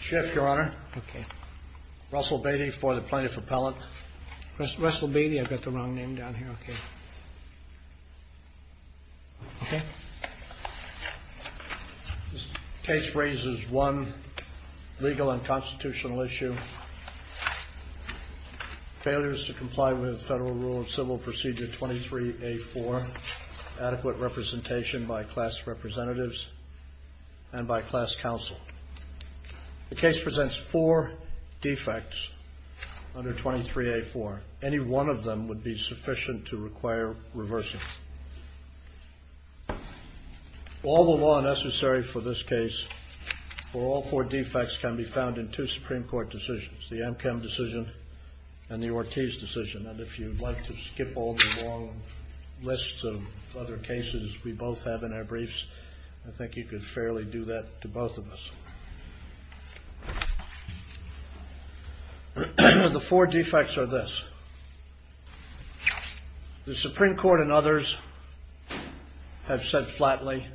Shift, Your Honor. Russell Beatty for the Plaintiff Appellant. Russell Beatty? I've got the wrong name down here. OK. This case raises one legal and constitutional issue. Failures to comply with Federal Rule of Civil Procedure 23-A-4. Adequate representation by class representatives and by class counsel. The case presents four defects under 23-A-4. Any one of them would be sufficient to require reversing. All the law necessary for this case, or all four defects, can be found in two Supreme Court decisions. The Amchem decision and the Ortiz decision. And if you'd like to skip all the long lists of other cases we both have in our briefs, I think you could fairly do that to both of us. The four defects are this. The Supreme Court and others have said flatly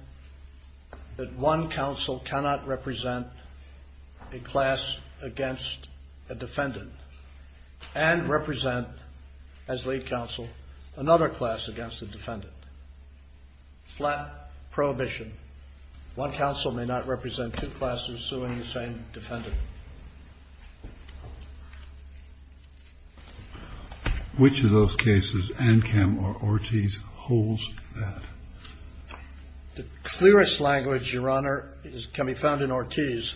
that one counsel cannot represent a class against a defendant and represent, as lead counsel, another class against a defendant. Flat prohibition. One counsel may not represent two classes suing the same defendant. Which of those cases, Amchem or Ortiz, holds that? The clearest language, Your Honor, can be found in Ortiz.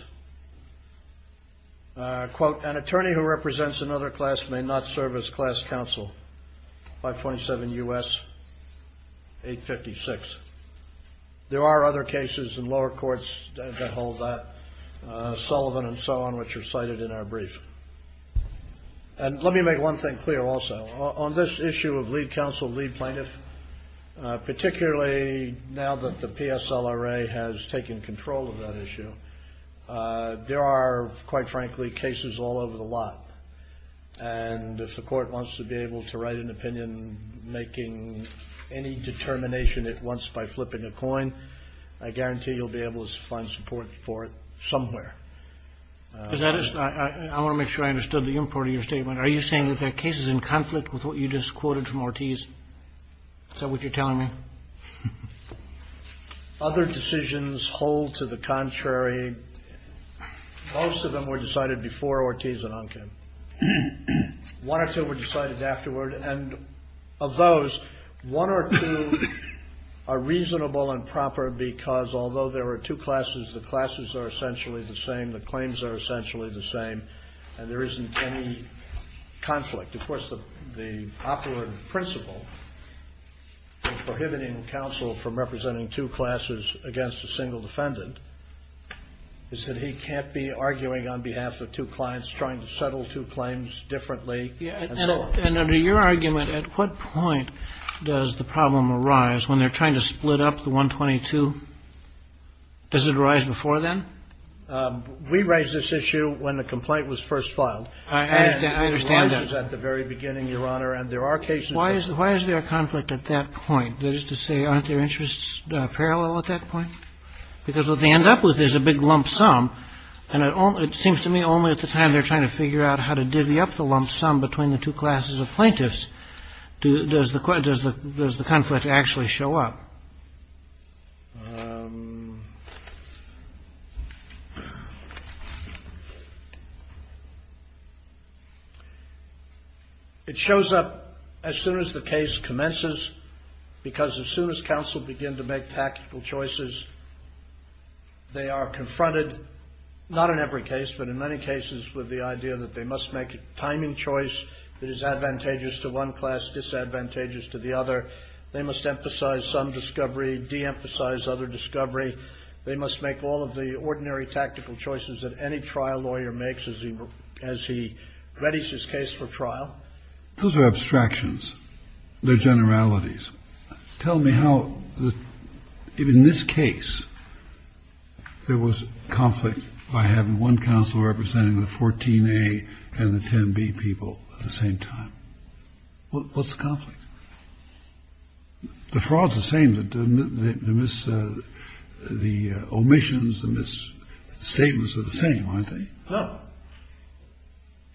Quote, an attorney who represents another class may not serve as class counsel. 527 U.S. 856. There are other cases in lower courts that hold that. Sullivan and so on, which are cited in our brief. And let me make one thing clear also. On this issue of lead counsel, lead plaintiff, particularly now that the PSLRA has taken control of that issue, there are, quite frankly, cases all over the lot. And if the court wants to be able to write an opinion making any determination at once by flipping a coin, I guarantee you'll be able to find support for it somewhere. I want to make sure I understood the import of your statement. Are you saying that there are cases in conflict with what you just quoted from Ortiz? Is that what you're telling me? Other decisions hold to the contrary. Most of them were decided before Ortiz and Amchem. One or two were decided afterward. And of those, one or two are reasonable and proper because although there are two classes, the classes are essentially the same, the claims are essentially the same, and there isn't any conflict. Of course, the operative principle in prohibiting counsel from representing two classes against a single defendant is that he can't be arguing on behalf of two clients, trying to settle two claims differently, and so on. And under your argument, at what point does the problem arise when they're trying to split up the 122? Does it arise before then? We raised this issue when the complaint was first filed. I understand that. And it arises at the very beginning, Your Honor. And there are cases that say that. Why is there conflict at that point? That is to say, aren't their interests parallel at that point? Because what they end up with is a big lump sum, and it seems to me only at the time they're trying to figure out how to divvy up the lump sum between the two classes of plaintiffs does the conflict actually show up. It shows up as soon as the case commences, because as soon as counsel begin to make tactical choices, they are confronted, not in every case, but in many cases with the idea that they must make a timing choice that is advantageous to one class, disadvantageous to the other. They must emphasize some discovery, de-emphasize other discovery. They must make all of the ordinary tactical choices that any trial lawyer makes as he readies his case for trial. Those are abstractions. They're generalities. Tell me how, in this case, there was conflict by having one counsel representing the 14A and the 10B people at the same time. What's the conflict? The fraud's the same. The omissions, the misstatements are the same, aren't they? No.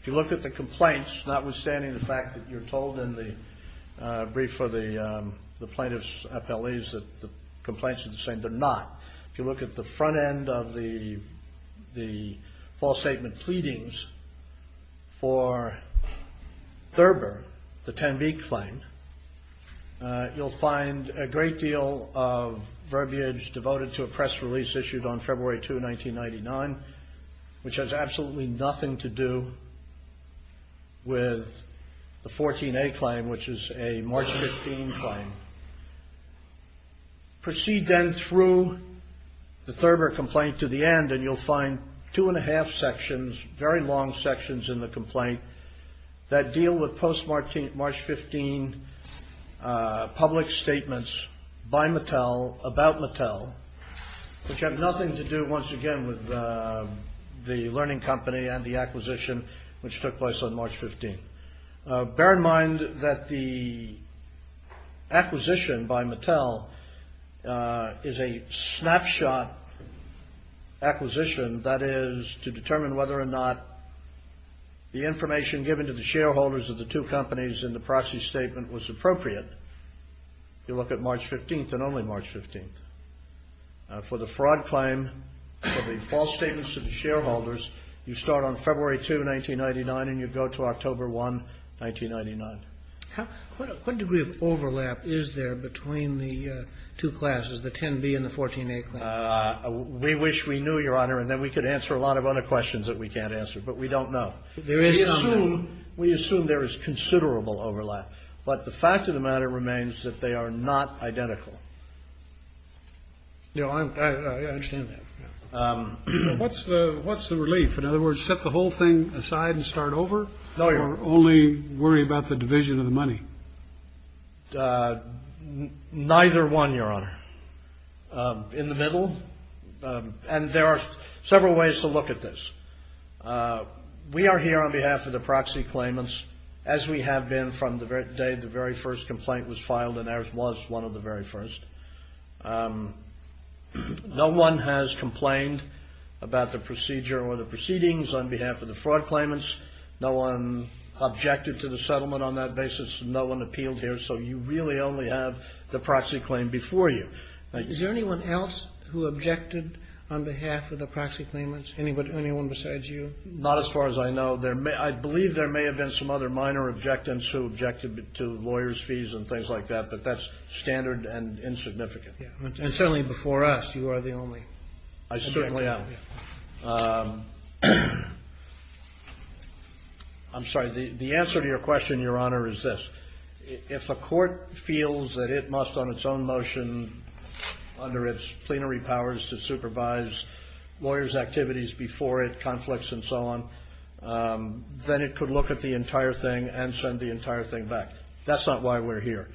If you look at the complaints, notwithstanding the fact that you're told in the brief for the plaintiff's appellees that the complaints are the same, they're not. If you look at the front end of the false statement pleadings for Thurber, the 10B claim, you'll find a great deal of verbiage devoted to a press release issued on February 2, 1999, which has absolutely nothing to do with the 14A claim, which is a March 15 claim. Proceed then through the Thurber complaint to the end, and you'll find two-and-a-half sections, very long sections in the complaint that deal with post-March 15 public statements by Mattel about Mattel, which have nothing to do, once again, with the learning company and the acquisition, which took place on March 15. Bear in mind that the acquisition by Mattel is a snapshot acquisition, that is, to determine whether or not the information given to the shareholders of the two companies in the proxy statement was appropriate, you look at March 15 and only March 15. For the fraud claim, for the false statements to the shareholders, you start on February 2, 1999, and you go to October 1, 1999. What degree of overlap is there between the two classes, the 10B and the 14A claim? We wish we knew, Your Honor, and then we could answer a lot of other questions that we can't answer. But we don't know. We assume there is considerable overlap. But the fact of the matter remains that they are not identical. I understand that. What's the relief? In other words, set the whole thing aside and start over? Or only worry about the division of the money? Neither one, Your Honor. In the middle? And there are several ways to look at this. We are here on behalf of the proxy claimants, as we have been from the day the very first complaint was filed, and ours was one of the very first. No one has complained about the procedure or the proceedings on behalf of the fraud claimants. No one objected to the settlement on that basis. No one appealed here. So you really only have the proxy claim before you. Is there anyone else who objected on behalf of the proxy claimants? Anyone besides you? Not as far as I know. I believe there may have been some other minor objectants who objected to lawyers' fees and things like that. But that's standard and insignificant. And certainly before us, you are the only objector. I certainly am. I'm sorry. The answer to your question, Your Honor, is this. If a court feels that it must, on its own motion, under its plenary powers, to supervise lawyers' activities before it, conflicts and so on, then it could look at the entire thing and send the entire thing back. That's not why we're here.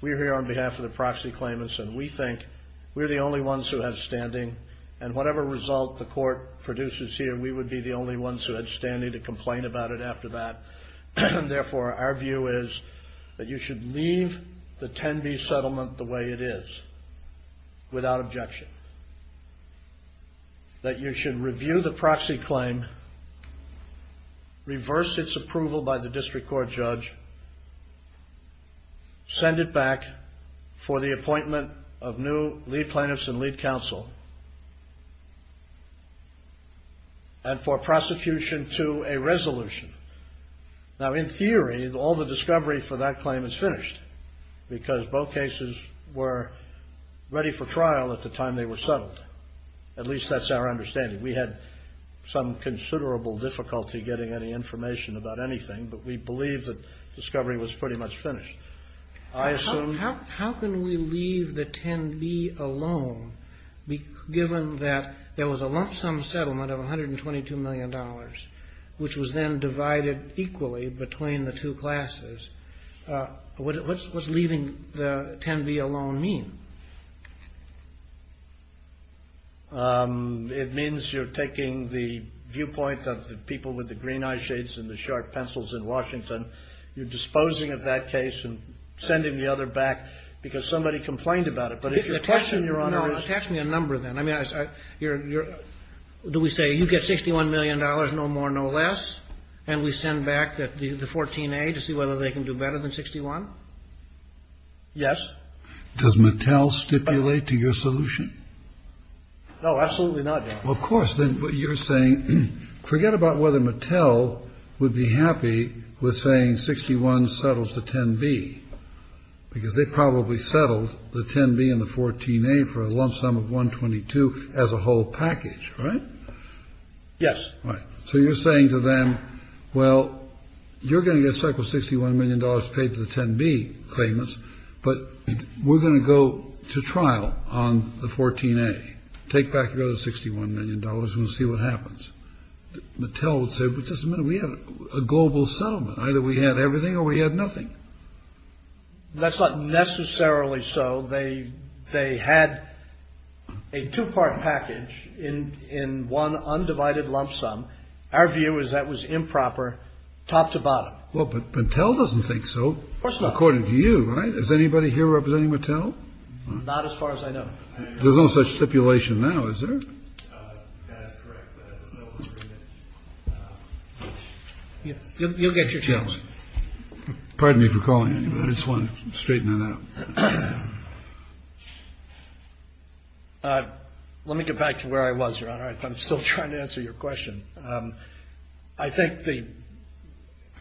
We're here on behalf of the proxy claimants, and we think we're the only ones who have standing. And whatever result the court produces here, we would be the only ones who had standing to complain about it after that. Therefore, our view is that you should leave the 10B settlement the way it is, without objection. That you should review the proxy claim, reverse its approval by the district court judge, send it back for the appointment of new lead plaintiffs and lead counsel, and for prosecution to a resolution. Now, in theory, all the discovery for that claim is finished, because both cases were ready for trial at the time they were settled. At least that's our understanding. We had some considerable difficulty getting any information about anything, but we believe that discovery was pretty much finished. How can we leave the 10B alone, given that there was a lump sum settlement of $122 million, which was then divided equally between the two classes? What's leaving the 10B alone mean? It means you're taking the viewpoint of the people with the green eyeshades and the sharp pencils in Washington. You're disposing of that case and sending the other back, because somebody complained about it. But if your question, Your Honor, is... No, attach me a number, then. I mean, do we say you get $61 million, no more, no less, and we send back the 14A to see whether they can do better than 61? Yes. Does Mattel stipulate to your solution? No, absolutely not, Your Honor. Well, of course. Then what you're saying, forget about whether Mattel would be happy with saying 61 settles the 10B, because they probably settled the 10B and the 14A for a lump sum of 122 as a whole package, right? Yes. Right. So you're saying to them, well, you're going to get settled $61 million paid for the 10B claimants, but we're going to go to trial on the 14A, take back the other $61 million, and see what happens. Mattel would say, but just a minute, we had a global settlement. Either we had everything or we had nothing. That's not necessarily so. They had a two-part package in one undivided lump sum. Our view is that was improper, top to bottom. Well, but Mattel doesn't think so. Of course not. According to you, right? Is anybody here representing Mattel? Not as far as I know. There's no such stipulation now, is there? That is correct. You'll get your chance. Pardon me for calling you, but I just wanted to straighten that out. Let me get back to where I was, Your Honor, if I'm still trying to answer your question. I think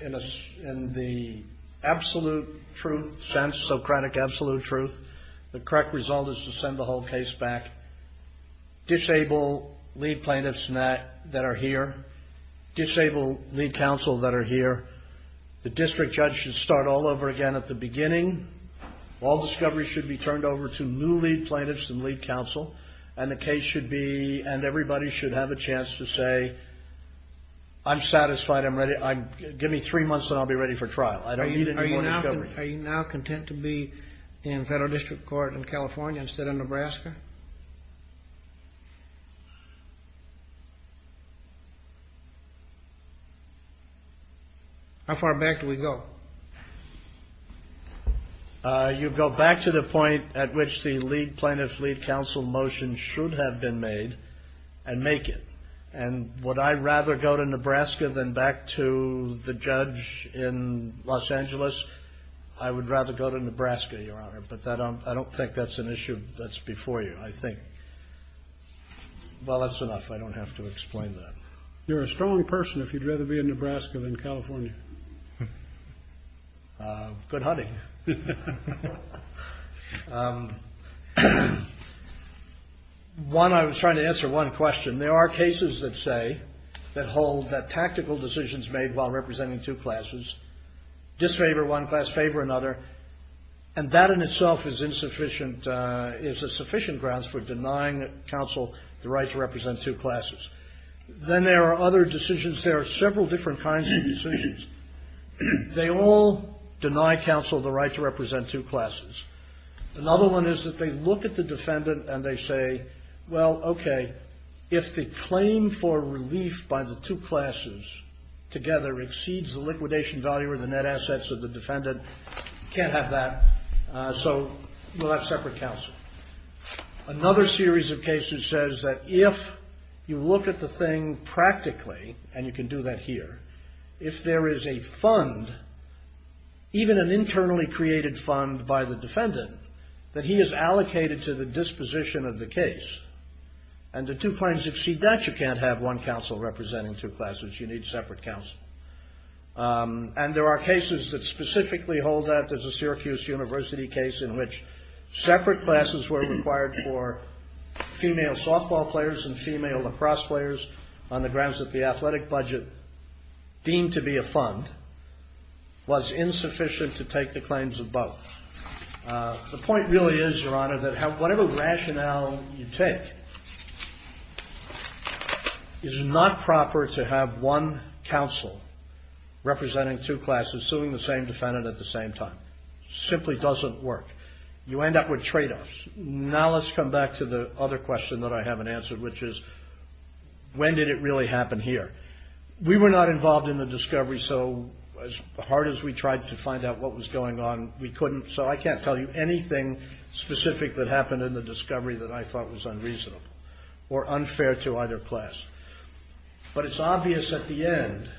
in the absolute truth sense, Socratic absolute truth, the correct result is to send the whole case back. Disable lead plaintiffs that are here. Disable lead counsel that are here. The district judge should start all over again at the beginning. All discovery should be turned over to new lead plaintiffs and lead counsel, and the case should be, and everybody should have a chance to say, I'm satisfied. Give me three months and I'll be ready for trial. I don't need any more discovery. Are you now content to be in federal district court in California instead of Nebraska? How far back do we go? You go back to the point at which the lead plaintiff's lead counsel motion should have been made and make it. And would I rather go to Nebraska than back to the judge in Los Angeles? I would rather go to Nebraska, Your Honor, but I don't think that's an issue that's before you, I think. Well, that's enough. I don't have to explain that. You're a strong person if you'd rather be in Nebraska than California. Good hunting. One, I was trying to answer one question. There are cases that say, that hold that tactical decisions made while representing two classes disfavor one class, favor another, and that in itself is insufficient, is a sufficient grounds for denying counsel the right to represent two classes. Then there are other decisions. There are several different kinds of decisions. They all deny counsel the right to represent two classes. Another one is that they look at the defendant and they say, well, okay, if the claim for relief by the two classes together exceeds the liquidation value or the net assets of the defendant, you can't have that, so we'll have separate counsel. Another series of cases says that if you look at the thing practically, and you can do that here, if there is a fund, even an internally created fund by the defendant, that he is allocated to the disposition of the case, and the two claims exceed that, you can't have one counsel representing two classes. You need separate counsel. And there are cases that specifically hold that. There's a Syracuse University case in which separate classes were required for female softball players and female lacrosse players on the grounds that the athletic budget deemed to be a fund was insufficient to take the claims of both. The point really is, Your Honor, that whatever rationale you take, is not proper to have one counsel representing two classes suing the same defendant at the same time. It simply doesn't work. You end up with tradeoffs. Now let's come back to the other question that I haven't answered, which is, when did it really happen here? We were not involved in the discovery, so as hard as we tried to find out what was going on, we couldn't. So I can't tell you anything specific that happened in the discovery that I thought was unreasonable or unfair to either class. But it's obvious at the end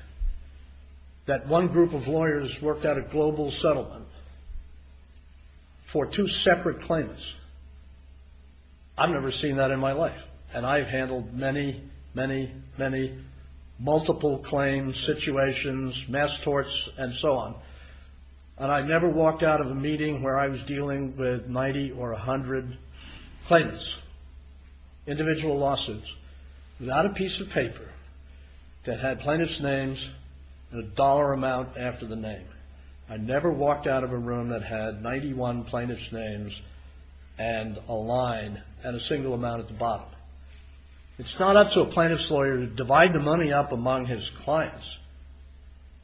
that one group of lawyers worked out a global settlement for two separate claims. I've never seen that in my life, and I've handled many, many, many multiple claims, situations, mass torts, and so on. And I've never walked out of a meeting where I was dealing with 90 or 100 plaintiffs, individual lawsuits, without a piece of paper that had plaintiff's names and a dollar amount after the name. I never walked out of a room that had 91 plaintiff's names and a line and a single amount at the bottom. It's not up to a plaintiff's lawyer to divide the money up among his clients.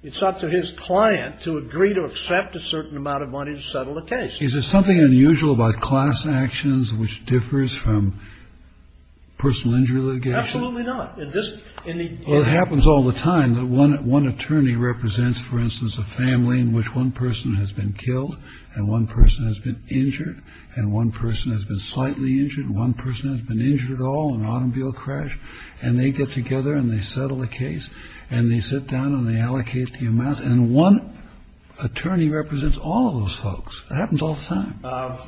It's up to his client to agree to accept a certain amount of money to settle the case. Is there something unusual about class actions which differs from personal injury litigation? Absolutely not. It happens all the time. One attorney represents, for instance, a family in which one person has been killed and one person has been injured and one person has been slightly injured and one person has been injured at all in an automobile crash, and they get together and they settle the case and they sit down and they allocate the amount. And one attorney represents all of those folks. It happens all the time.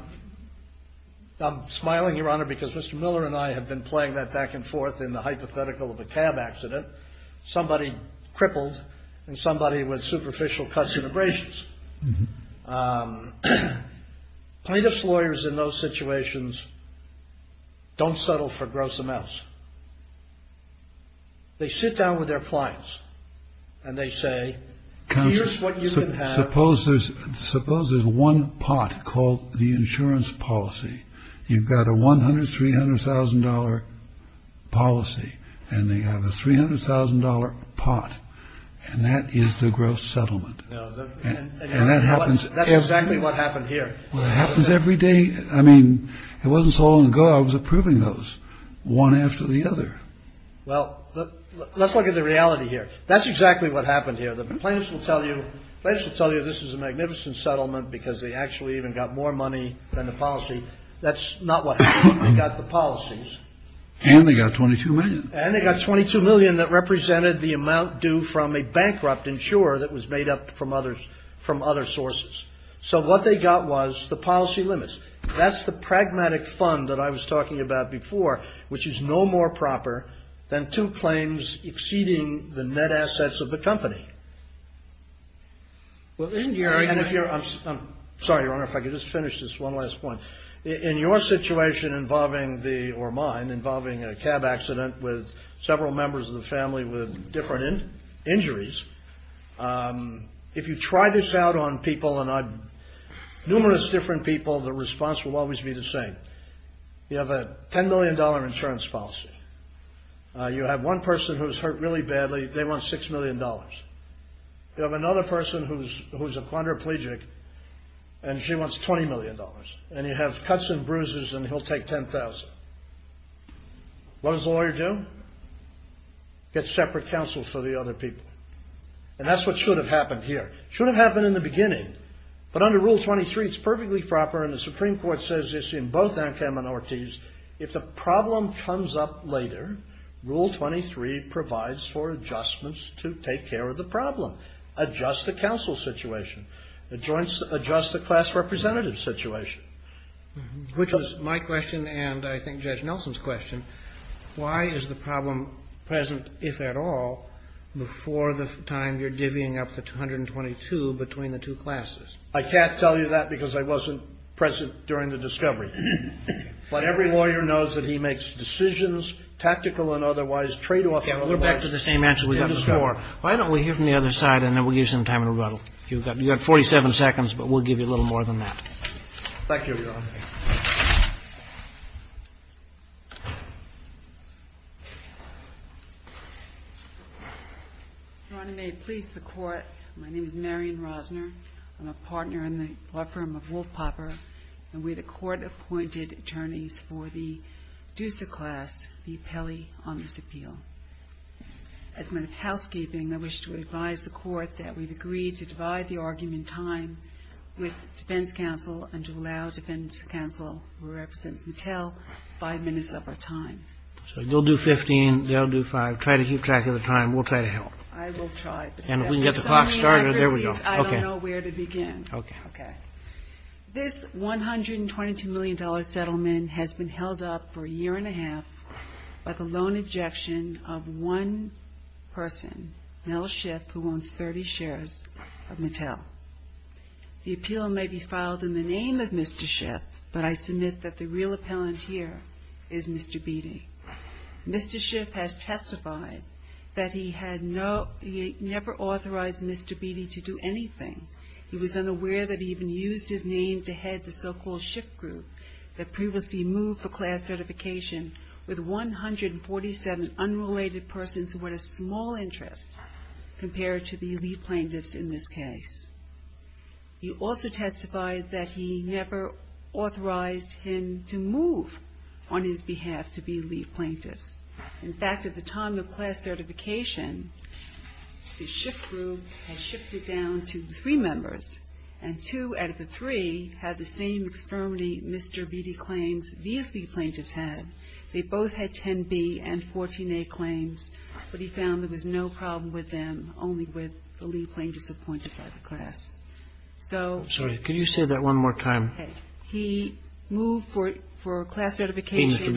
I'm smiling, Your Honor, because Mr. Miller and I have been playing that back and forth in the hypothetical of a cab accident. Somebody crippled and somebody with superficial cuts and abrasions. Plaintiff's lawyers in those situations don't settle for gross amounts. They sit down with their clients and they say, here's what you can have. Suppose there's one pot called the insurance policy. You've got a $100,000, $300,000 policy and they have a $300,000 pot. And that is the gross settlement. And that happens. That's exactly what happened here. It happens every day. I mean, it wasn't so long ago I was approving those one after the other. Well, let's look at the reality here. That's exactly what happened here. The plaintiffs will tell you this is a magnificent settlement because they actually even got more money than the policy. That's not what happened. They got the policies. And they got $22 million. And they got $22 million that represented the amount due from a bankrupt insurer that was made up from other sources. So what they got was the policy limits. That's the pragmatic fund that I was talking about before, which is no more proper than two claims exceeding the net assets of the company. Well, in your – I'm sorry, Your Honor, if I could just finish this one last point. In your situation involving the – or mine – involving a cab accident with several members of the family with different injuries, if you try this out on people and on numerous different people, the response will always be the same. You have a $10 million insurance policy. You have one person who's hurt really badly. They want $6 million. You have another person who's a chondroplegic, and she wants $20 million. And you have cuts and bruises, and he'll take $10,000. What does a lawyer do? Get separate counsel for the other people. And that's what should have happened here. It should have happened in the beginning. But under Rule 23, it's perfectly proper, and the Supreme Court says this in both Ankh-Amanorte's. If the problem comes up later, Rule 23 provides for adjustments to take care of the problem. Adjust the counsel situation. Adjust the class representative situation. Which is my question and I think Judge Nelson's question. Why is the problem present, if at all, before the time you're divvying up the 122 between the two classes? I can't tell you that because I wasn't present during the discovery. But every lawyer knows that he makes decisions, tactical and otherwise, tradeoffs and otherwise. We're back to the same answer we got before. Why don't we hear from the other side, and then we'll give you some time in rebuttal. You've got 47 seconds, but we'll give you a little more than that. Thank you, Your Honor. Your Honor, may it please the Court. My name is Marion Rosner. I'm a partner in the law firm of Wolf Popper. And we're the court-appointed attorneys for the DUSA class, the appellee on this appeal. As a matter of housekeeping, I wish to advise the Court that we've agreed to divide the argument in time with defense counsel and to allow defense counsel, who represents Mattel, five minutes of our time. So you'll do 15, they'll do five. Try to keep track of the time. We'll try to help. I will try. And if we can get the clock started, there we go. I don't know where to begin. Okay. Okay. This $122 million settlement has been held up for a year and a half by the lone objection of one person, Mel Schiff, who owns 30 shares of Mattel. The appeal may be filed in the name of Mr. Schiff, but I submit that the real appellant here is Mr. Beattie. Mr. Schiff has testified that he had never authorized Mr. Beattie to do anything. He was unaware that he even used his name to head the so-called Schiff Group that previously moved for class certification with 147 unrelated persons who had a small interest compared to the elite plaintiffs in this case. He also testified that he never authorized him to move on his behalf to be elite plaintiffs. In fact, at the time of class certification, the Schiff Group had shifted down to three members, and two out of the three had the same extermity Mr. Beattie claims these elite plaintiffs had. They both had 10B and 14A claims, but he found that there was no problem with them, only with the elite plaintiffs appointed by the class. So he moved for class certification.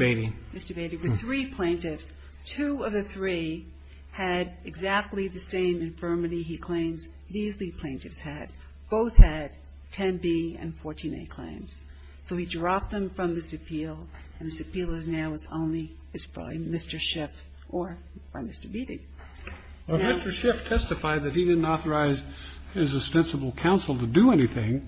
Mr. Beattie. The three plaintiffs, two of the three, had exactly the same infirmity he claims these elite plaintiffs had. Both had 10B and 14A claims. So he dropped them from this appeal, and this appeal is now only, it's probably Mr. Schiff or Mr. Beattie. Now you have to testify that he didn't authorize his ostensible counsel to do anything,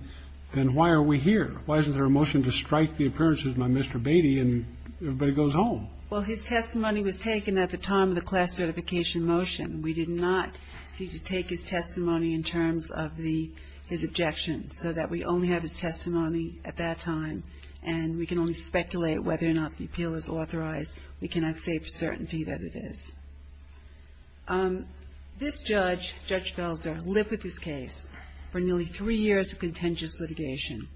then why are we here? Why isn't there a motion to strike the appearances by Mr. Beattie and everybody goes home? Well, his testimony was taken at the time of the class certification motion. We did not seek to take his testimony in terms of the, his objection, so that we only have his testimony at that time, and we can only speculate whether or not the appeal is authorized. We cannot say for certainty that it is. This judge, Judge Belzer, lived with this case for nearly three years of contentious litigation.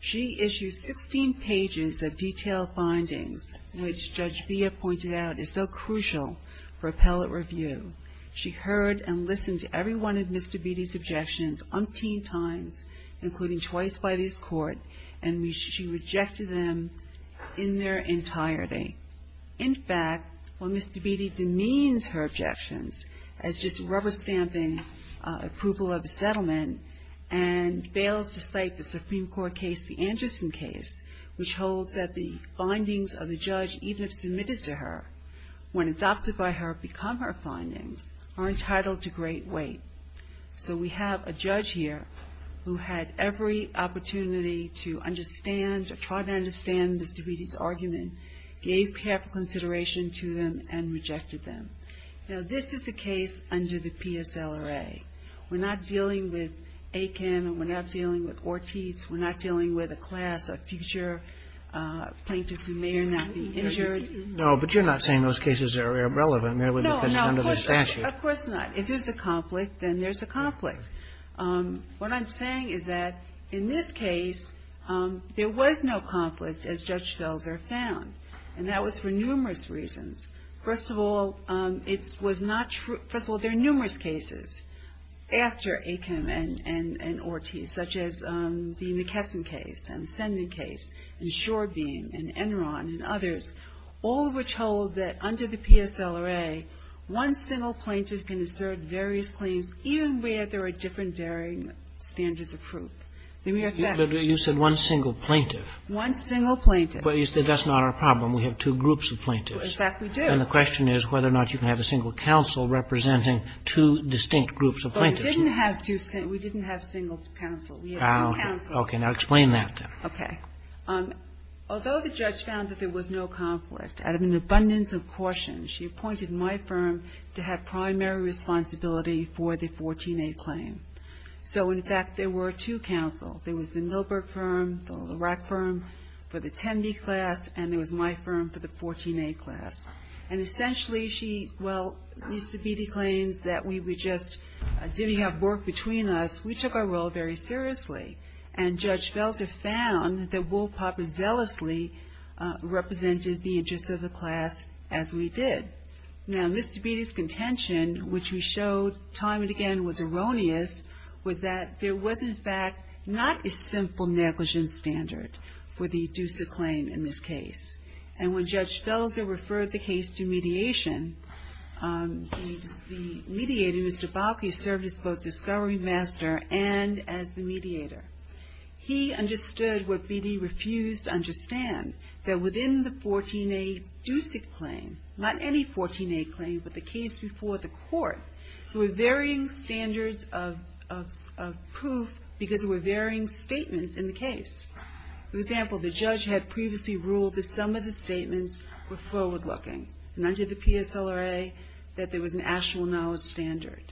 She issued 16 pages of detailed findings, which Judge Villa pointed out is so crucial for appellate review. She heard and listened to every one of Mr. Beattie's objections umpteen times, including twice by this Court, and she rejected them in their entirety. In fact, when Mr. Beattie demeans her objections as just rubber stamping approval of a settlement, and fails to cite the Supreme Court case, the Anderson case, which holds that the findings of the judge, even if submitted to her, when adopted by her become her findings, are entitled to great weight. So we have a judge here who had every opportunity to understand or try to understand Mr. Beattie's argument, gave careful consideration to them, and rejected them. Now, this is a case under the PSLRA. We're not dealing with Aiken. We're not dealing with Ortiz. We're not dealing with a class of future plaintiffs who may or may not be injured. Roberts. No, but you're not saying those cases are irrelevant. They would have been under the statute. Of course not. If there's a conflict, then there's a conflict. What I'm saying is that in this case, there was no conflict, as Judge Belzer found, and that was for numerous reasons. First of all, it was not true. First of all, there are numerous cases after Aiken and Ortiz, such as the McKesson case and Sending case and Shorebeam and Enron and others, all of which hold that under the PSLRA, one single plaintiff can assert various claims even where there are different varying standards of proof. You said one single plaintiff. One single plaintiff. We have two groups of plaintiffs. In fact, we do. And the question is whether or not you can have a single counsel representing two distinct groups of plaintiffs. But we didn't have two single – we didn't have single counsel. We had two counsels. Okay. Now explain that, then. Okay. Although the judge found that there was no conflict, out of an abundance of caution, she appointed my firm to have primary responsibility for the 14A claim. So, in fact, there were two counsels. And essentially, she – well, Mr. Beattie claims that we were just – didn't have work between us. We took our role very seriously. And Judge Felser found that Will Popper zealously represented the interests of the class as we did. Now, Mr. Beattie's contention, which we showed time and again was erroneous, was that there was, in fact, not a simple negligence standard for the DUSA claim in this case. And when Judge Felser referred the case to mediation, the mediator, Mr. Bauke, served as both discovery master and as the mediator. He understood what Beattie refused to understand, that within the 14A DUSA claim, not any 14A claim, but the case before the court, there were varying standards of proof because there were varying statements in the case. For example, the judge had previously ruled that some of the statements were forward-looking, and under the PSLRA, that there was an actual knowledge standard.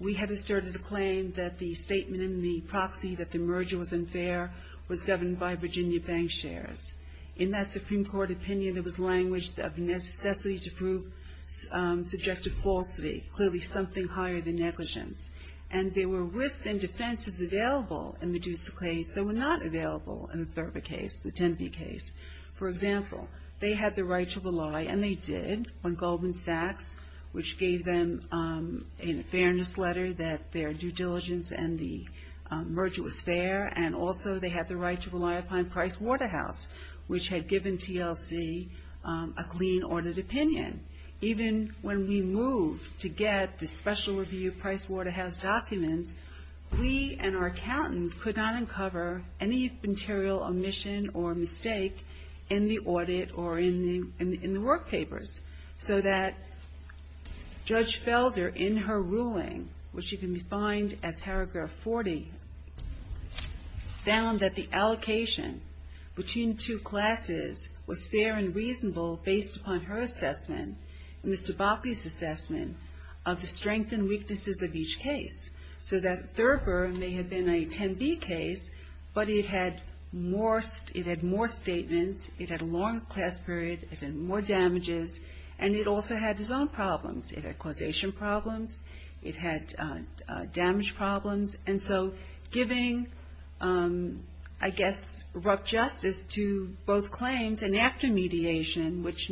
We had asserted a claim that the statement in the proxy that the merger was unfair was governed by Virginia bank shares. In that Supreme Court opinion, there was language of necessity to prove subjective falsity, clearly something higher than negligence. And there were risks and defenses available in the DUSA case that were not available in the THERPA case, the 10B case. For example, they had the right to rely, and they did, on Goldman Sachs, which gave them an fairness letter that their due diligence and the merger was fair. And also, they had the right to rely upon Price Waterhouse, which had given TLC a clean-ordered opinion. Even when we moved to get the special review of Price Waterhouse documents, we and our accountants could not uncover any material omission or mistake in the audit or in the work papers. So that Judge Felser, in her ruling, which you can find at paragraph 40, found that the allocation between two classes was fair and reasonable based upon her assessment and Mr. Botley's assessment of the strengths and weaknesses of each case. So that THERPA may have been a 10B case, but it had more statements. It had a longer class period. It had more damages. And it also had its own problems. It had causation problems. It had damage problems. And so giving, I guess, rough justice to both claims and after mediation, which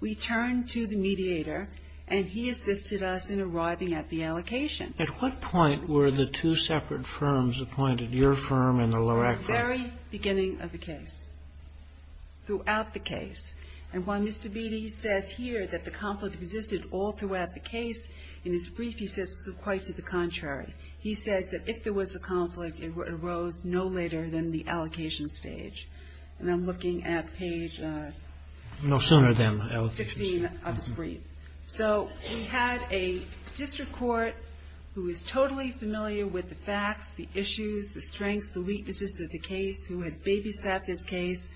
we turned to the mediator, and he assisted us in arriving at the allocation. At what point were the two separate firms appointed, your firm and the Lorac firm? The very beginning of the case. Throughout the case. And while Mr. Beatty says here that the conflict existed all throughout the case, in his brief he says quite to the contrary. He says that if there was a conflict, it arose no later than the allocation stage. And I'm looking at page 15 of his brief. So we had a district court who is totally familiar with the facts, the issues, the strengths, the weaknesses of the case, who had babysat this case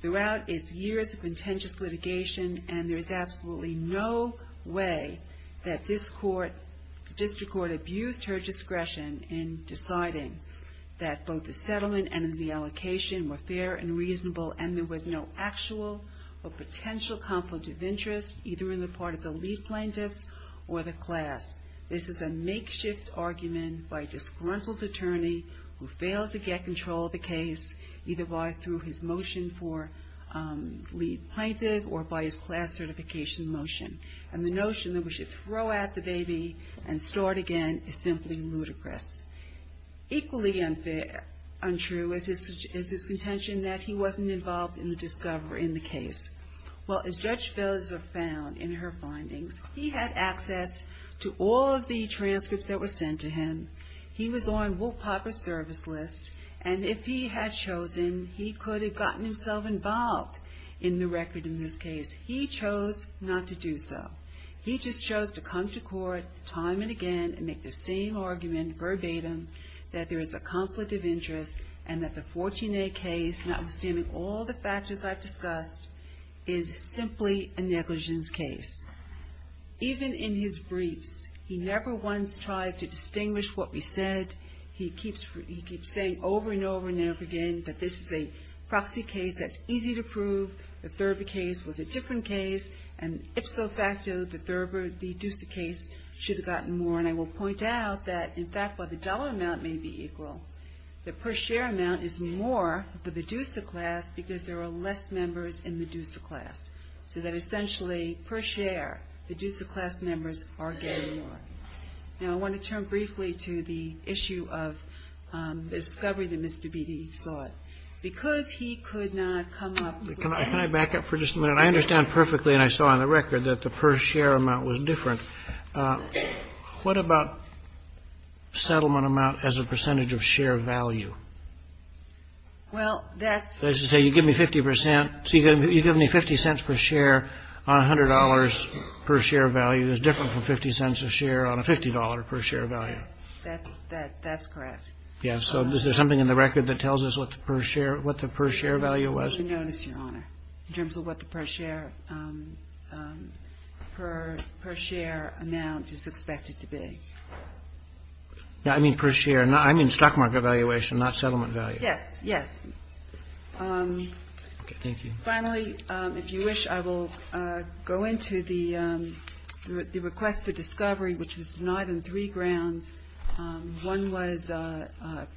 throughout its years of contentious litigation, and there is absolutely no way that this court, the district court, abused her discretion in deciding that both the settlement and the allocation were fair and reasonable, and there was no actual or potential conflict of interest, either in the part of the lead plaintiffs or the class. This is a makeshift argument by disgruntled attorney who failed to get control of the case, either by through his motion for lead plaintiff or by his class certification motion. And the notion that we should throw out the baby and start again is simply ludicrous. Equally untrue is his contention that he wasn't involved in the discovery in the case. Well, as Judge Felser found in her findings, he had access to all of the transcripts that were sent to him. He was on Wolf Piper's service list, and if he had chosen, he could have gotten himself involved in the record in this case. He chose not to do so. He just chose to come to court time and again and make the same argument verbatim that there is a conflict of interest and that the 14A case, notwithstanding all the factors I've discussed, is simply a negligence case. Even in his briefs, he never once tries to distinguish what we said. He keeps saying over and over and over again that this is a proxy case that's easy to prove. The Thurber case was a different case, and ipso facto, the Thurber, the Dusa case should have gotten more. And I will point out that, in fact, while the dollar amount may be equal, the per share amount is more for the Dusa class because there are less members in the Dusa class. So that essentially, per share, the Dusa class members are getting more. Now, I want to turn briefly to the issue of the discovery that Mr. Beattie sought. Because he could not come up with that. Can I back up for just a minute? I understand perfectly, and I saw on the record, that the per share amount was different. What about settlement amount as a percentage of share value? Well, that's to say you give me 50 percent, so you give me 50 cents per share on $100 per share value is different from 50 cents a share on a $50 per share value. That's correct. Yes. So is there something in the record that tells us what the per share value was? I didn't notice, Your Honor, in terms of what the per share amount is expected to be. I mean per share. I mean stock market valuation, not settlement value. Yes. Yes. Okay. Thank you. Finally, if you wish, I will go into the request for discovery, which was denied on three grounds. One was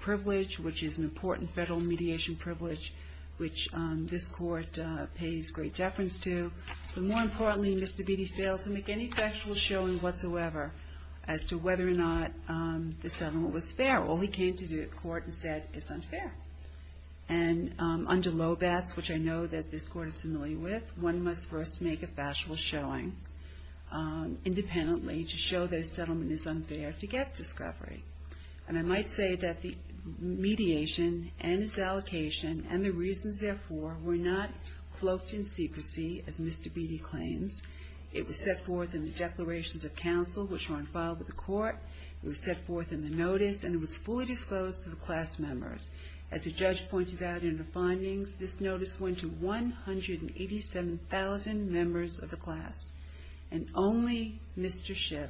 privilege, which is an important federal mediation privilege, which this Court pays great deference to. But more importantly, Mr. Beatty failed to make any factual showing whatsoever as to whether or not the settlement was fair. All he came to do at court is say it's unfair. And under Loebetz, which I know that this Court is familiar with, one must first make a factual showing independently to show that a settlement is unfair to get discovery. And I might say that the mediation and its allocation and the reasons, therefore, were not cloaked in secrecy, as Mr. Beatty claims. It was set forth in the declarations of counsel, which were unfiled with the Court. It was set forth in the notice, and it was fully disclosed to the class members. As the judge pointed out in the findings, this notice went to 187,000 members of the class. And only Mr. Schiff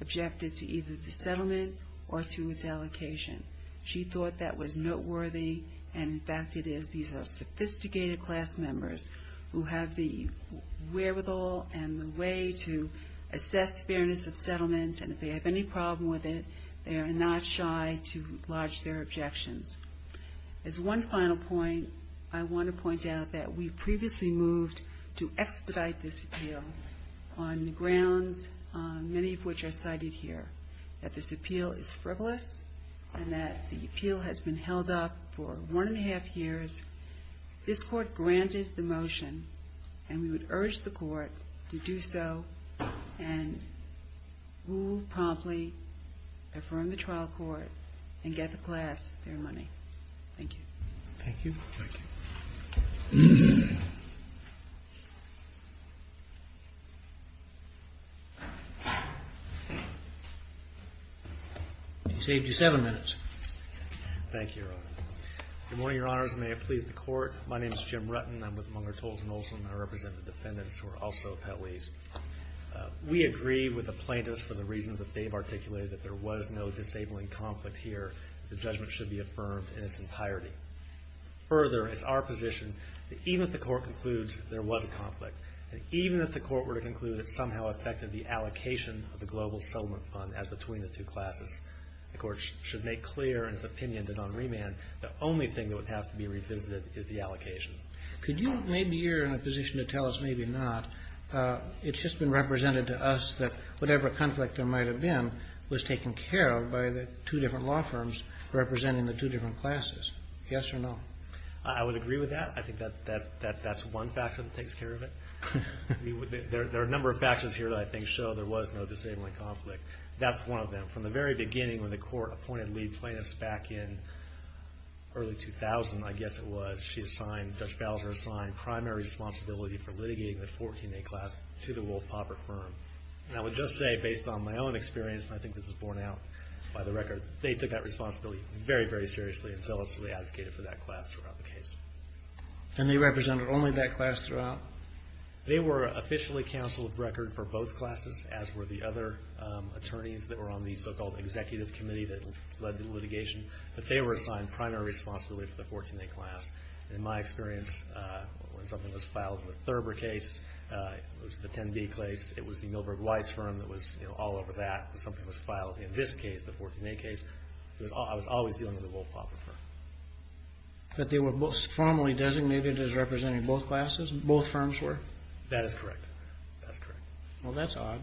objected to either the settlement or to its allocation. She thought that was noteworthy, and in fact it is. These are sophisticated class members who have the wherewithal and the way to assess fairness of settlements, and if they have any problem with it, they are not shy to lodge their objections. As one final point, I want to point out that we previously moved to expedite this appeal on the grounds, many of which are cited here, that this appeal is frivolous and that the appeal has been held up for one and a half years. This Court granted the motion, and we would urge the Court to do so and move promptly, affirm the trial court, and get the class their money. Thank you. Thank you. Thank you. I saved you seven minutes. Thank you, Your Honor. Good morning, Your Honors, and may it please the Court. My name is Jim Rutten. I'm with Munger, Tolles & Olson. I represent the defendants who are also appellees. We agree with the plaintiffs for the reasons that they've articulated, that there was no disabling conflict here. The judgment should be affirmed in its entirety. Further, it's our position that even if the Court concludes there was a conflict, that even if the Court were to conclude it somehow affected the allocation of the global settlement fund as between the two classes, the Court should make clear in its opinion that on remand the only thing that would have to be revisited is the allocation. Could you, maybe you're in a position to tell us maybe not, it's just been represented to us that whatever conflict there might have been was taken care of by the two different law firms representing the two different classes. Yes or no? I would agree with that. I think that's one factor that takes care of it. There are a number of factors here that I think show there was no disabling conflict. That's one of them. From the very beginning when the Court appointed lead plaintiffs back in early 2000, I guess it was, she assigned, Judge Bowser assigned, primary responsibility for litigating the 14A class to the Wolf-Pauper firm. And I would just say, based on my own experience, and I think this is borne out by the record, they took that responsibility very, very seriously and zealously advocated for that class throughout the case. And they represented only that class throughout? They were officially counsel of record for both classes, as were the other attorneys that were on the so-called executive committee that led the litigation. But they were assigned primary responsibility for the 14A class. In my experience, when something was filed in the Thurber case, it was the 10B case, it was the Milberg-Weiss firm that was all over that, something was filed. In this case, the 14A case, I was always dealing with the Wolf-Pauper firm. But they were formally designated as representing both classes, both firms were? That is correct. That's correct. Well, that's odd.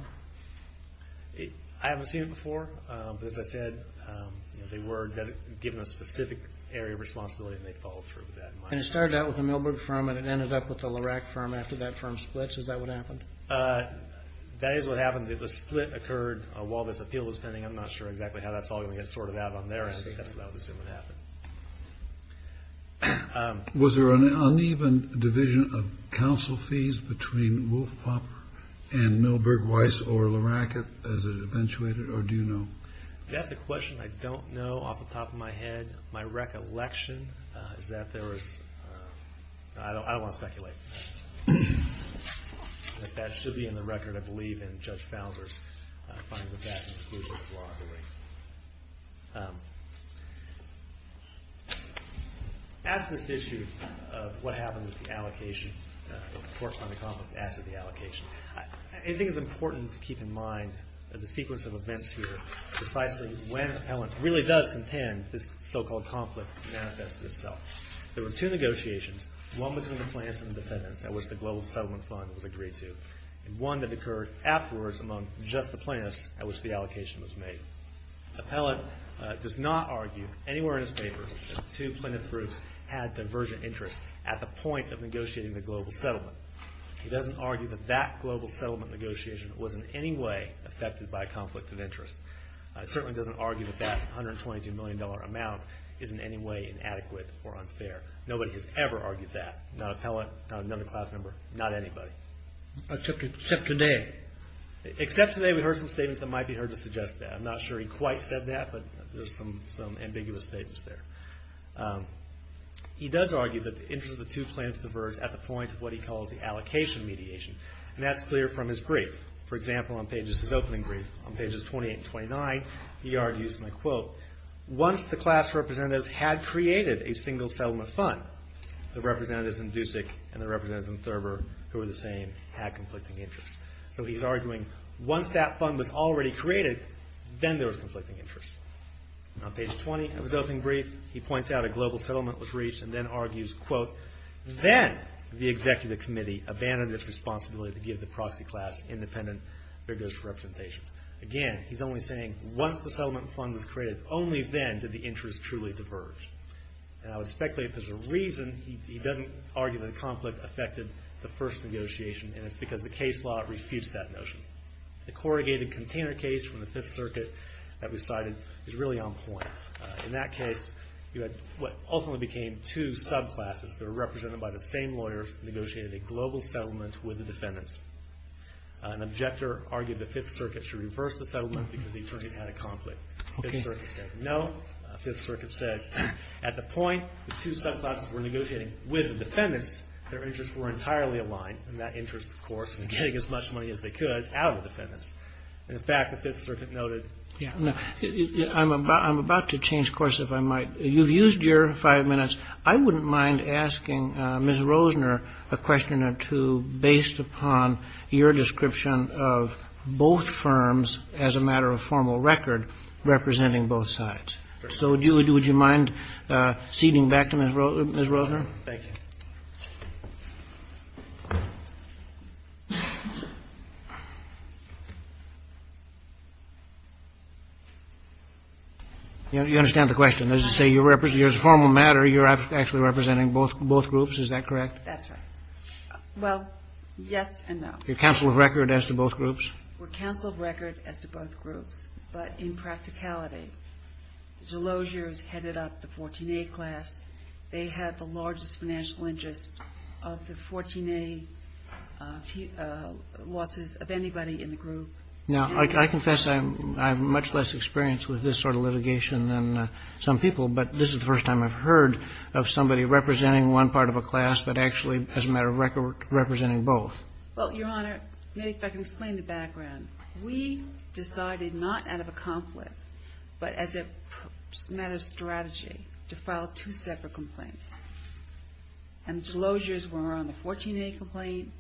I haven't seen it before, but as I said, they were given a specific area of responsibility and they followed through with that. And it started out with the Milberg firm and it ended up with the Lorac firm after that firm split. Is that what happened? That is what happened. The split occurred while this appeal was pending. I'm not sure exactly how that's all going to get sorted out on their end, but that's what I would assume would happen. Was there an uneven division of counsel fees between Wolf-Pauper and Milberg-Weiss or Lorac as it eventuated, or do you know? That's a question I don't know off the top of my head. My recollection is that there was – I don't want to speculate. That should be in the record, I believe, in Judge Fowler's findings of that in the conclusion of the law hearing. Ask this issue of what happens with the allocation, the court finding conflict after the allocation. I think it's important to keep in mind that the sequence of events here, precisely when Appellant really does contend this so-called conflict manifested itself. There were two negotiations, one between the plaintiffs and the defendants at which the Global Settlement Fund was agreed to, and one that occurred afterwards among just the plaintiffs at which the allocation was made. Appellant does not argue anywhere in his papers that the two plaintiff groups had divergent interests at the point of negotiating the global settlement. He doesn't argue that that global settlement negotiation was in any way affected by conflict of interest. He certainly doesn't argue that that $122 million amount is in any way inadequate or unfair. Nobody has ever argued that, not Appellant, not another class member, not anybody. Except today. Except today we heard some statements that might be heard to suggest that. I'm not sure he quite said that, but there's some ambiguous statements there. He does argue that the interests of the two plaintiffs diverge at the point of what he calls the allocation mediation, and that's clear from his brief. For example, on pages, his opening brief, on pages 28 and 29, he argues, and I quote, once the class representatives had created a single settlement fund, the representatives in Dusick and the representatives in Thurber who were the same had conflicting interests. So he's arguing once that fund was already created, then there was conflicting interest. On page 20 of his opening brief, he points out a global settlement was reached and then argues, quote, and then the executive committee abandoned its responsibility to give the proxy class independent, vigorous representation. Again, he's only saying once the settlement fund was created, only then did the interest truly diverge. And I would speculate if there's a reason he doesn't argue that the conflict affected the first negotiation, and it's because the case law refutes that notion. The corrugated container case from the Fifth Circuit that we cited is really on point. In that case, you had what ultimately became two subclasses that were represented by the same lawyers that negotiated a global settlement with the defendants. An objector argued the Fifth Circuit should reverse the settlement because the attorneys had a conflict. The Fifth Circuit said no. The Fifth Circuit said at the point the two subclasses were negotiating with the defendants, their interests were entirely aligned, and that interest, of course, was getting as much money as they could out of the defendants. And, in fact, the Fifth Circuit noted, I'm about to change course if I might. You've used your five minutes. I wouldn't mind asking Ms. Rosner a question or two based upon your description of both firms as a matter of formal record representing both sides. So would you mind ceding back to Ms. Rosner? Thank you. You understand the question. As a formal matter, you're actually representing both groups. Is that correct? That's right. Well, yes and no. You're counsel of record as to both groups? We're counsel of record as to both groups. But in practicality, the Delosiers headed up the 14A class. They had the largest financial interest of the 14A losses of anybody in the group. Now, I confess I have much less experience with this sort of litigation than some people, but this is the first time I've heard of somebody representing one part of a class but actually, as a matter of record, representing both. Well, Your Honor, maybe if I can explain the background. We decided not out of a conflict but as a matter of strategy to file two separate complaints. And the Delosiers were on the 14A complaint.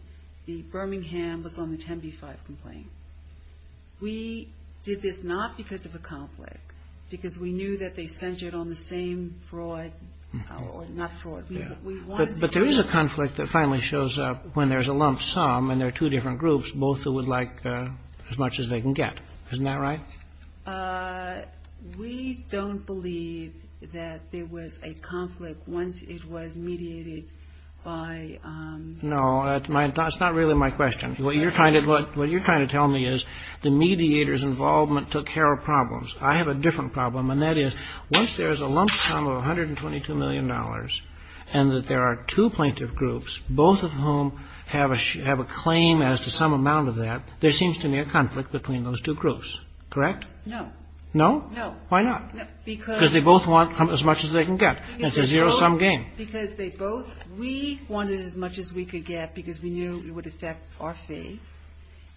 The Birmingham was on the 10B-5 complaint. We did this not because of a conflict, because we knew that they centered on the same fraud or not fraud. But there is a conflict that finally shows up when there's a lump sum and there are two different groups, both who would like as much as they can get. Isn't that right? We don't believe that there was a conflict once it was mediated by. No, that's not really my question. What you're trying to tell me is the mediator's involvement took care of problems. I have a different problem, and that is once there's a lump sum of $122 million and that there are two plaintiff groups, both of whom have a claim as to some amount of that, there seems to be a conflict between those two groups. Correct? No. No? No. Why not? Because they both want as much as they can get. It's a zero-sum game. Because they both we wanted as much as we could get because we knew it would affect our fee.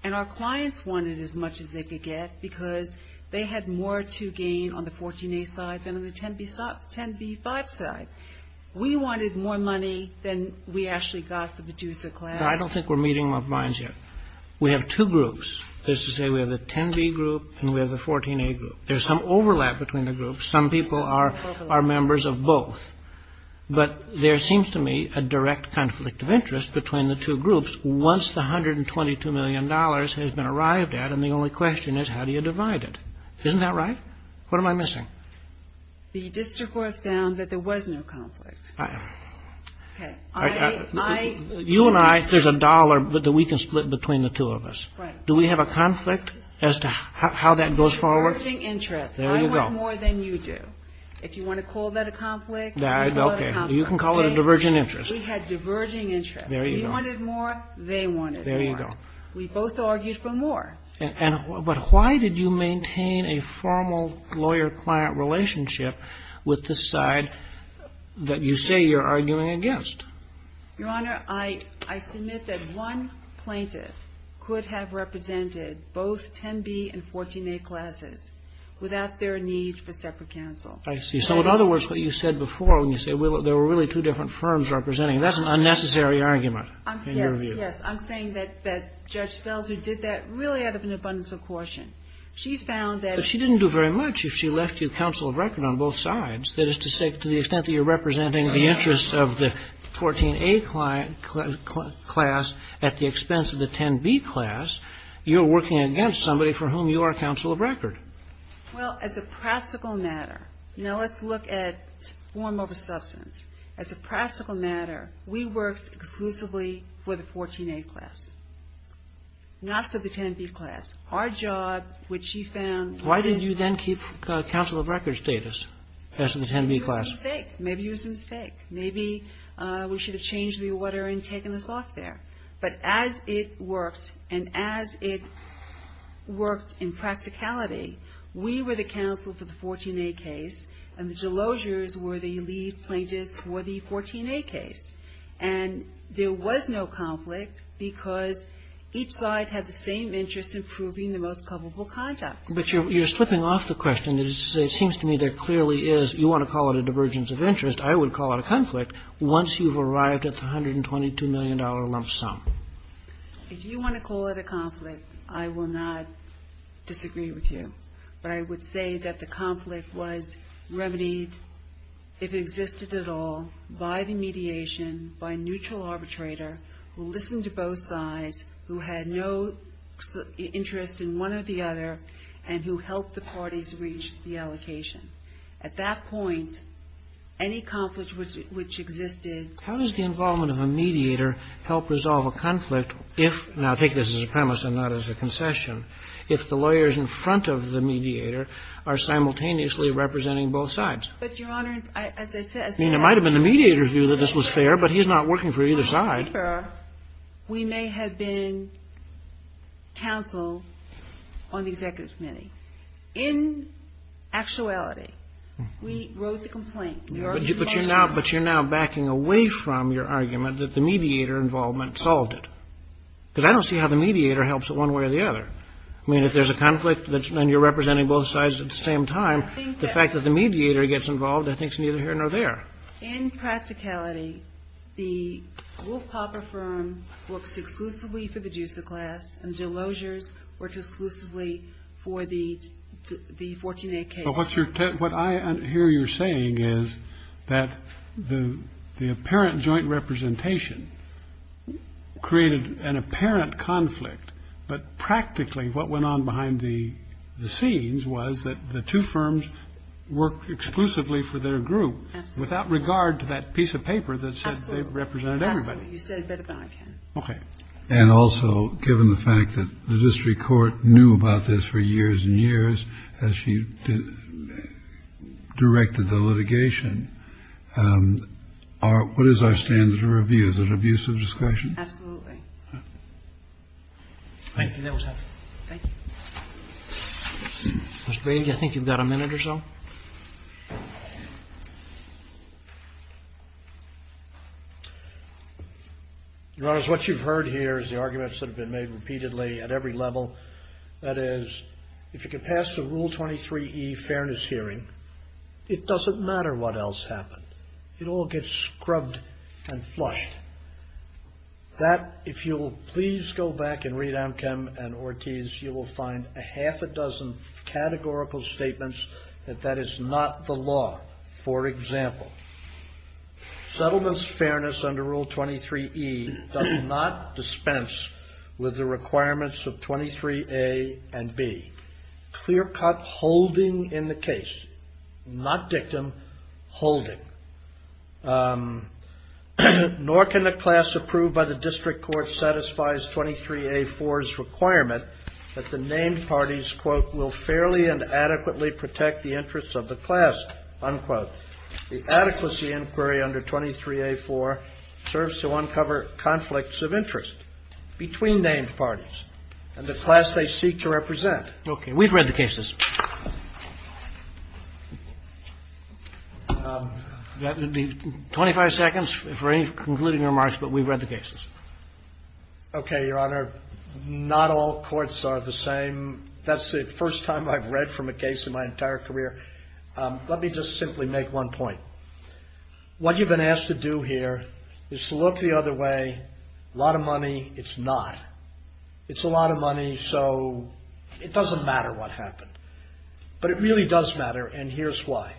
And our clients wanted as much as they could get because they had more to gain on the 14A side than on the 10B5 side. We wanted more money than we actually got through the Medusa class. I don't think we're meeting our minds yet. We have two groups. There's the 10B group and we have the 14A group. There's some overlap between the groups. Some people are members of both. But there seems to me a direct conflict of interest between the two groups once the $122 million has been arrived at and the only question is how do you divide it? Isn't that right? What am I missing? The district court found that there was no conflict. Okay. You and I, there's a dollar that we can split between the two of us. Right. Do we have a conflict as to how that goes forward? Converging interest. There you go. I want more than you do. If you want to call that a conflict, we call it a conflict. Okay. You can call it a diverging interest. We had diverging interest. There you go. We wanted more. They wanted more. There you go. We both argued for more. But why did you maintain a formal lawyer-client relationship with the side that you say you're arguing against? Your Honor, I submit that one plaintiff could have represented both 10B and 14A classes without their need for separate counsel. I see. So in other words, what you said before when you say there were really two different firms representing, that's an unnecessary argument in your view. Yes. Yes. I'm saying that Judge Felder did that really out of an abundance of caution. She found that ---- But she didn't do very much if she left you counsel of record on both sides. That is to say, to the extent that you're representing the interests of the 14A class at the expense of the 10B class, you're working against somebody for whom you are counsel of record. Well, as a practical matter, now let's look at form over substance. As a practical matter, we worked exclusively for the 14A class, not for the 10B class. Our job, which she found ---- Why did you then keep counsel of record status as to the 10B class? It was a mistake. Maybe it was a mistake. Maybe we should have changed the order in taking this off there. But as it worked, and as it worked in practicality, we were the counsel for the 14A case, and the delosiers were the lead plaintiffs for the 14A case. And there was no conflict because each side had the same interest in proving the most culpable conduct. But you're slipping off the question. It seems to me there clearly is, you want to call it a divergence of interest, I would call it a conflict, once you've arrived at the $122 million lump sum. If you want to call it a conflict, I will not disagree with you. But I would say that the conflict was remedied, if it existed at all, by the mediation, by a neutral arbitrator who listened to both sides, who had no interest in one or the other, and who helped the parties reach the allocation. At that point, any conflict which existed ---- How does the involvement of a mediator help resolve a conflict if, now take this as a premise and not as a concession, if the lawyers in front of the mediator are simultaneously representing both sides? But, Your Honor, as I said ---- I mean, it might have been the mediator's view that this was fair, but he's not working for either side. We may have been counsel on the executive committee. In actuality, we wrote the complaint. We wrote the motions. But you're now backing away from your argument that the mediator involvement solved it. Because I don't see how the mediator helps it one way or the other. I mean, if there's a conflict and you're representing both sides at the same time, the fact that the mediator gets involved, I think, is neither here nor there. In practicality, the Wolf-Pauper firm worked exclusively for the Deucer class, and the Delosiers worked exclusively for the 14A case. But what I hear you're saying is that the apparent joint representation created an apparent conflict, but practically what went on behind the scenes was that the two firms worked exclusively for their group. Absolutely. Without regard to that piece of paper that says they represented everybody. Absolutely. You said it better than I can. Okay. And also, given the fact that the district court knew about this for years and years as she directed the litigation, what is our standard of review? Is it abusive discretion? Absolutely. Thank you. That was helpful. Thank you. Mr. Bailey, I think you've got a minute or so. Your Honor, what you've heard here is the arguments that have been made repeatedly at every level. That is, if you can pass the Rule 23E fairness hearing, it doesn't matter what else happened. It all gets scrubbed and flushed. That, if you will please go back and read Amkam and Ortiz, you will find a half a dozen categorical statements that that is not the law. For example, settlements fairness under Rule 23E does not dispense with the requirements of 23A and B. Clear-cut holding in the case, not dictum, holding. Nor can the class approved by the district court satisfies 23A-4's requirement that the named parties, quote, will fairly and adequately protect the interests of the class, unquote. The adequacy inquiry under 23A-4 serves to uncover conflicts of interest between named parties and the class they seek to represent. Okay. We've read the cases. That would be 25 seconds for any concluding remarks, but we've read the cases. Okay, Your Honor, not all courts are the same. That's the first time I've read from a case in my entire career. Let me just simply make one point. What you've been asked to do here is to look the other way. A lot of money, it's not. It's a lot of money, so it doesn't matter what happened. But it really does matter, and here's why.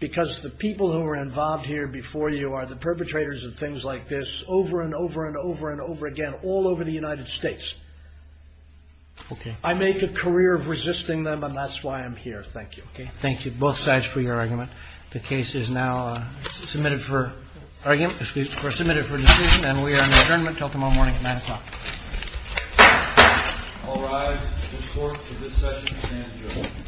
Because the people who were involved here before you are the perpetrators of things like this over and over and over and over again, all over the United States. Okay. I make a career of resisting them, and that's why I'm here. Thank you. Thank you, both sides, for your argument. The case is now submitted for argument or submitted for decision, and we are in adjournment until tomorrow morning at 9 o'clock. All rise. The court for this session is adjourned. Thank you.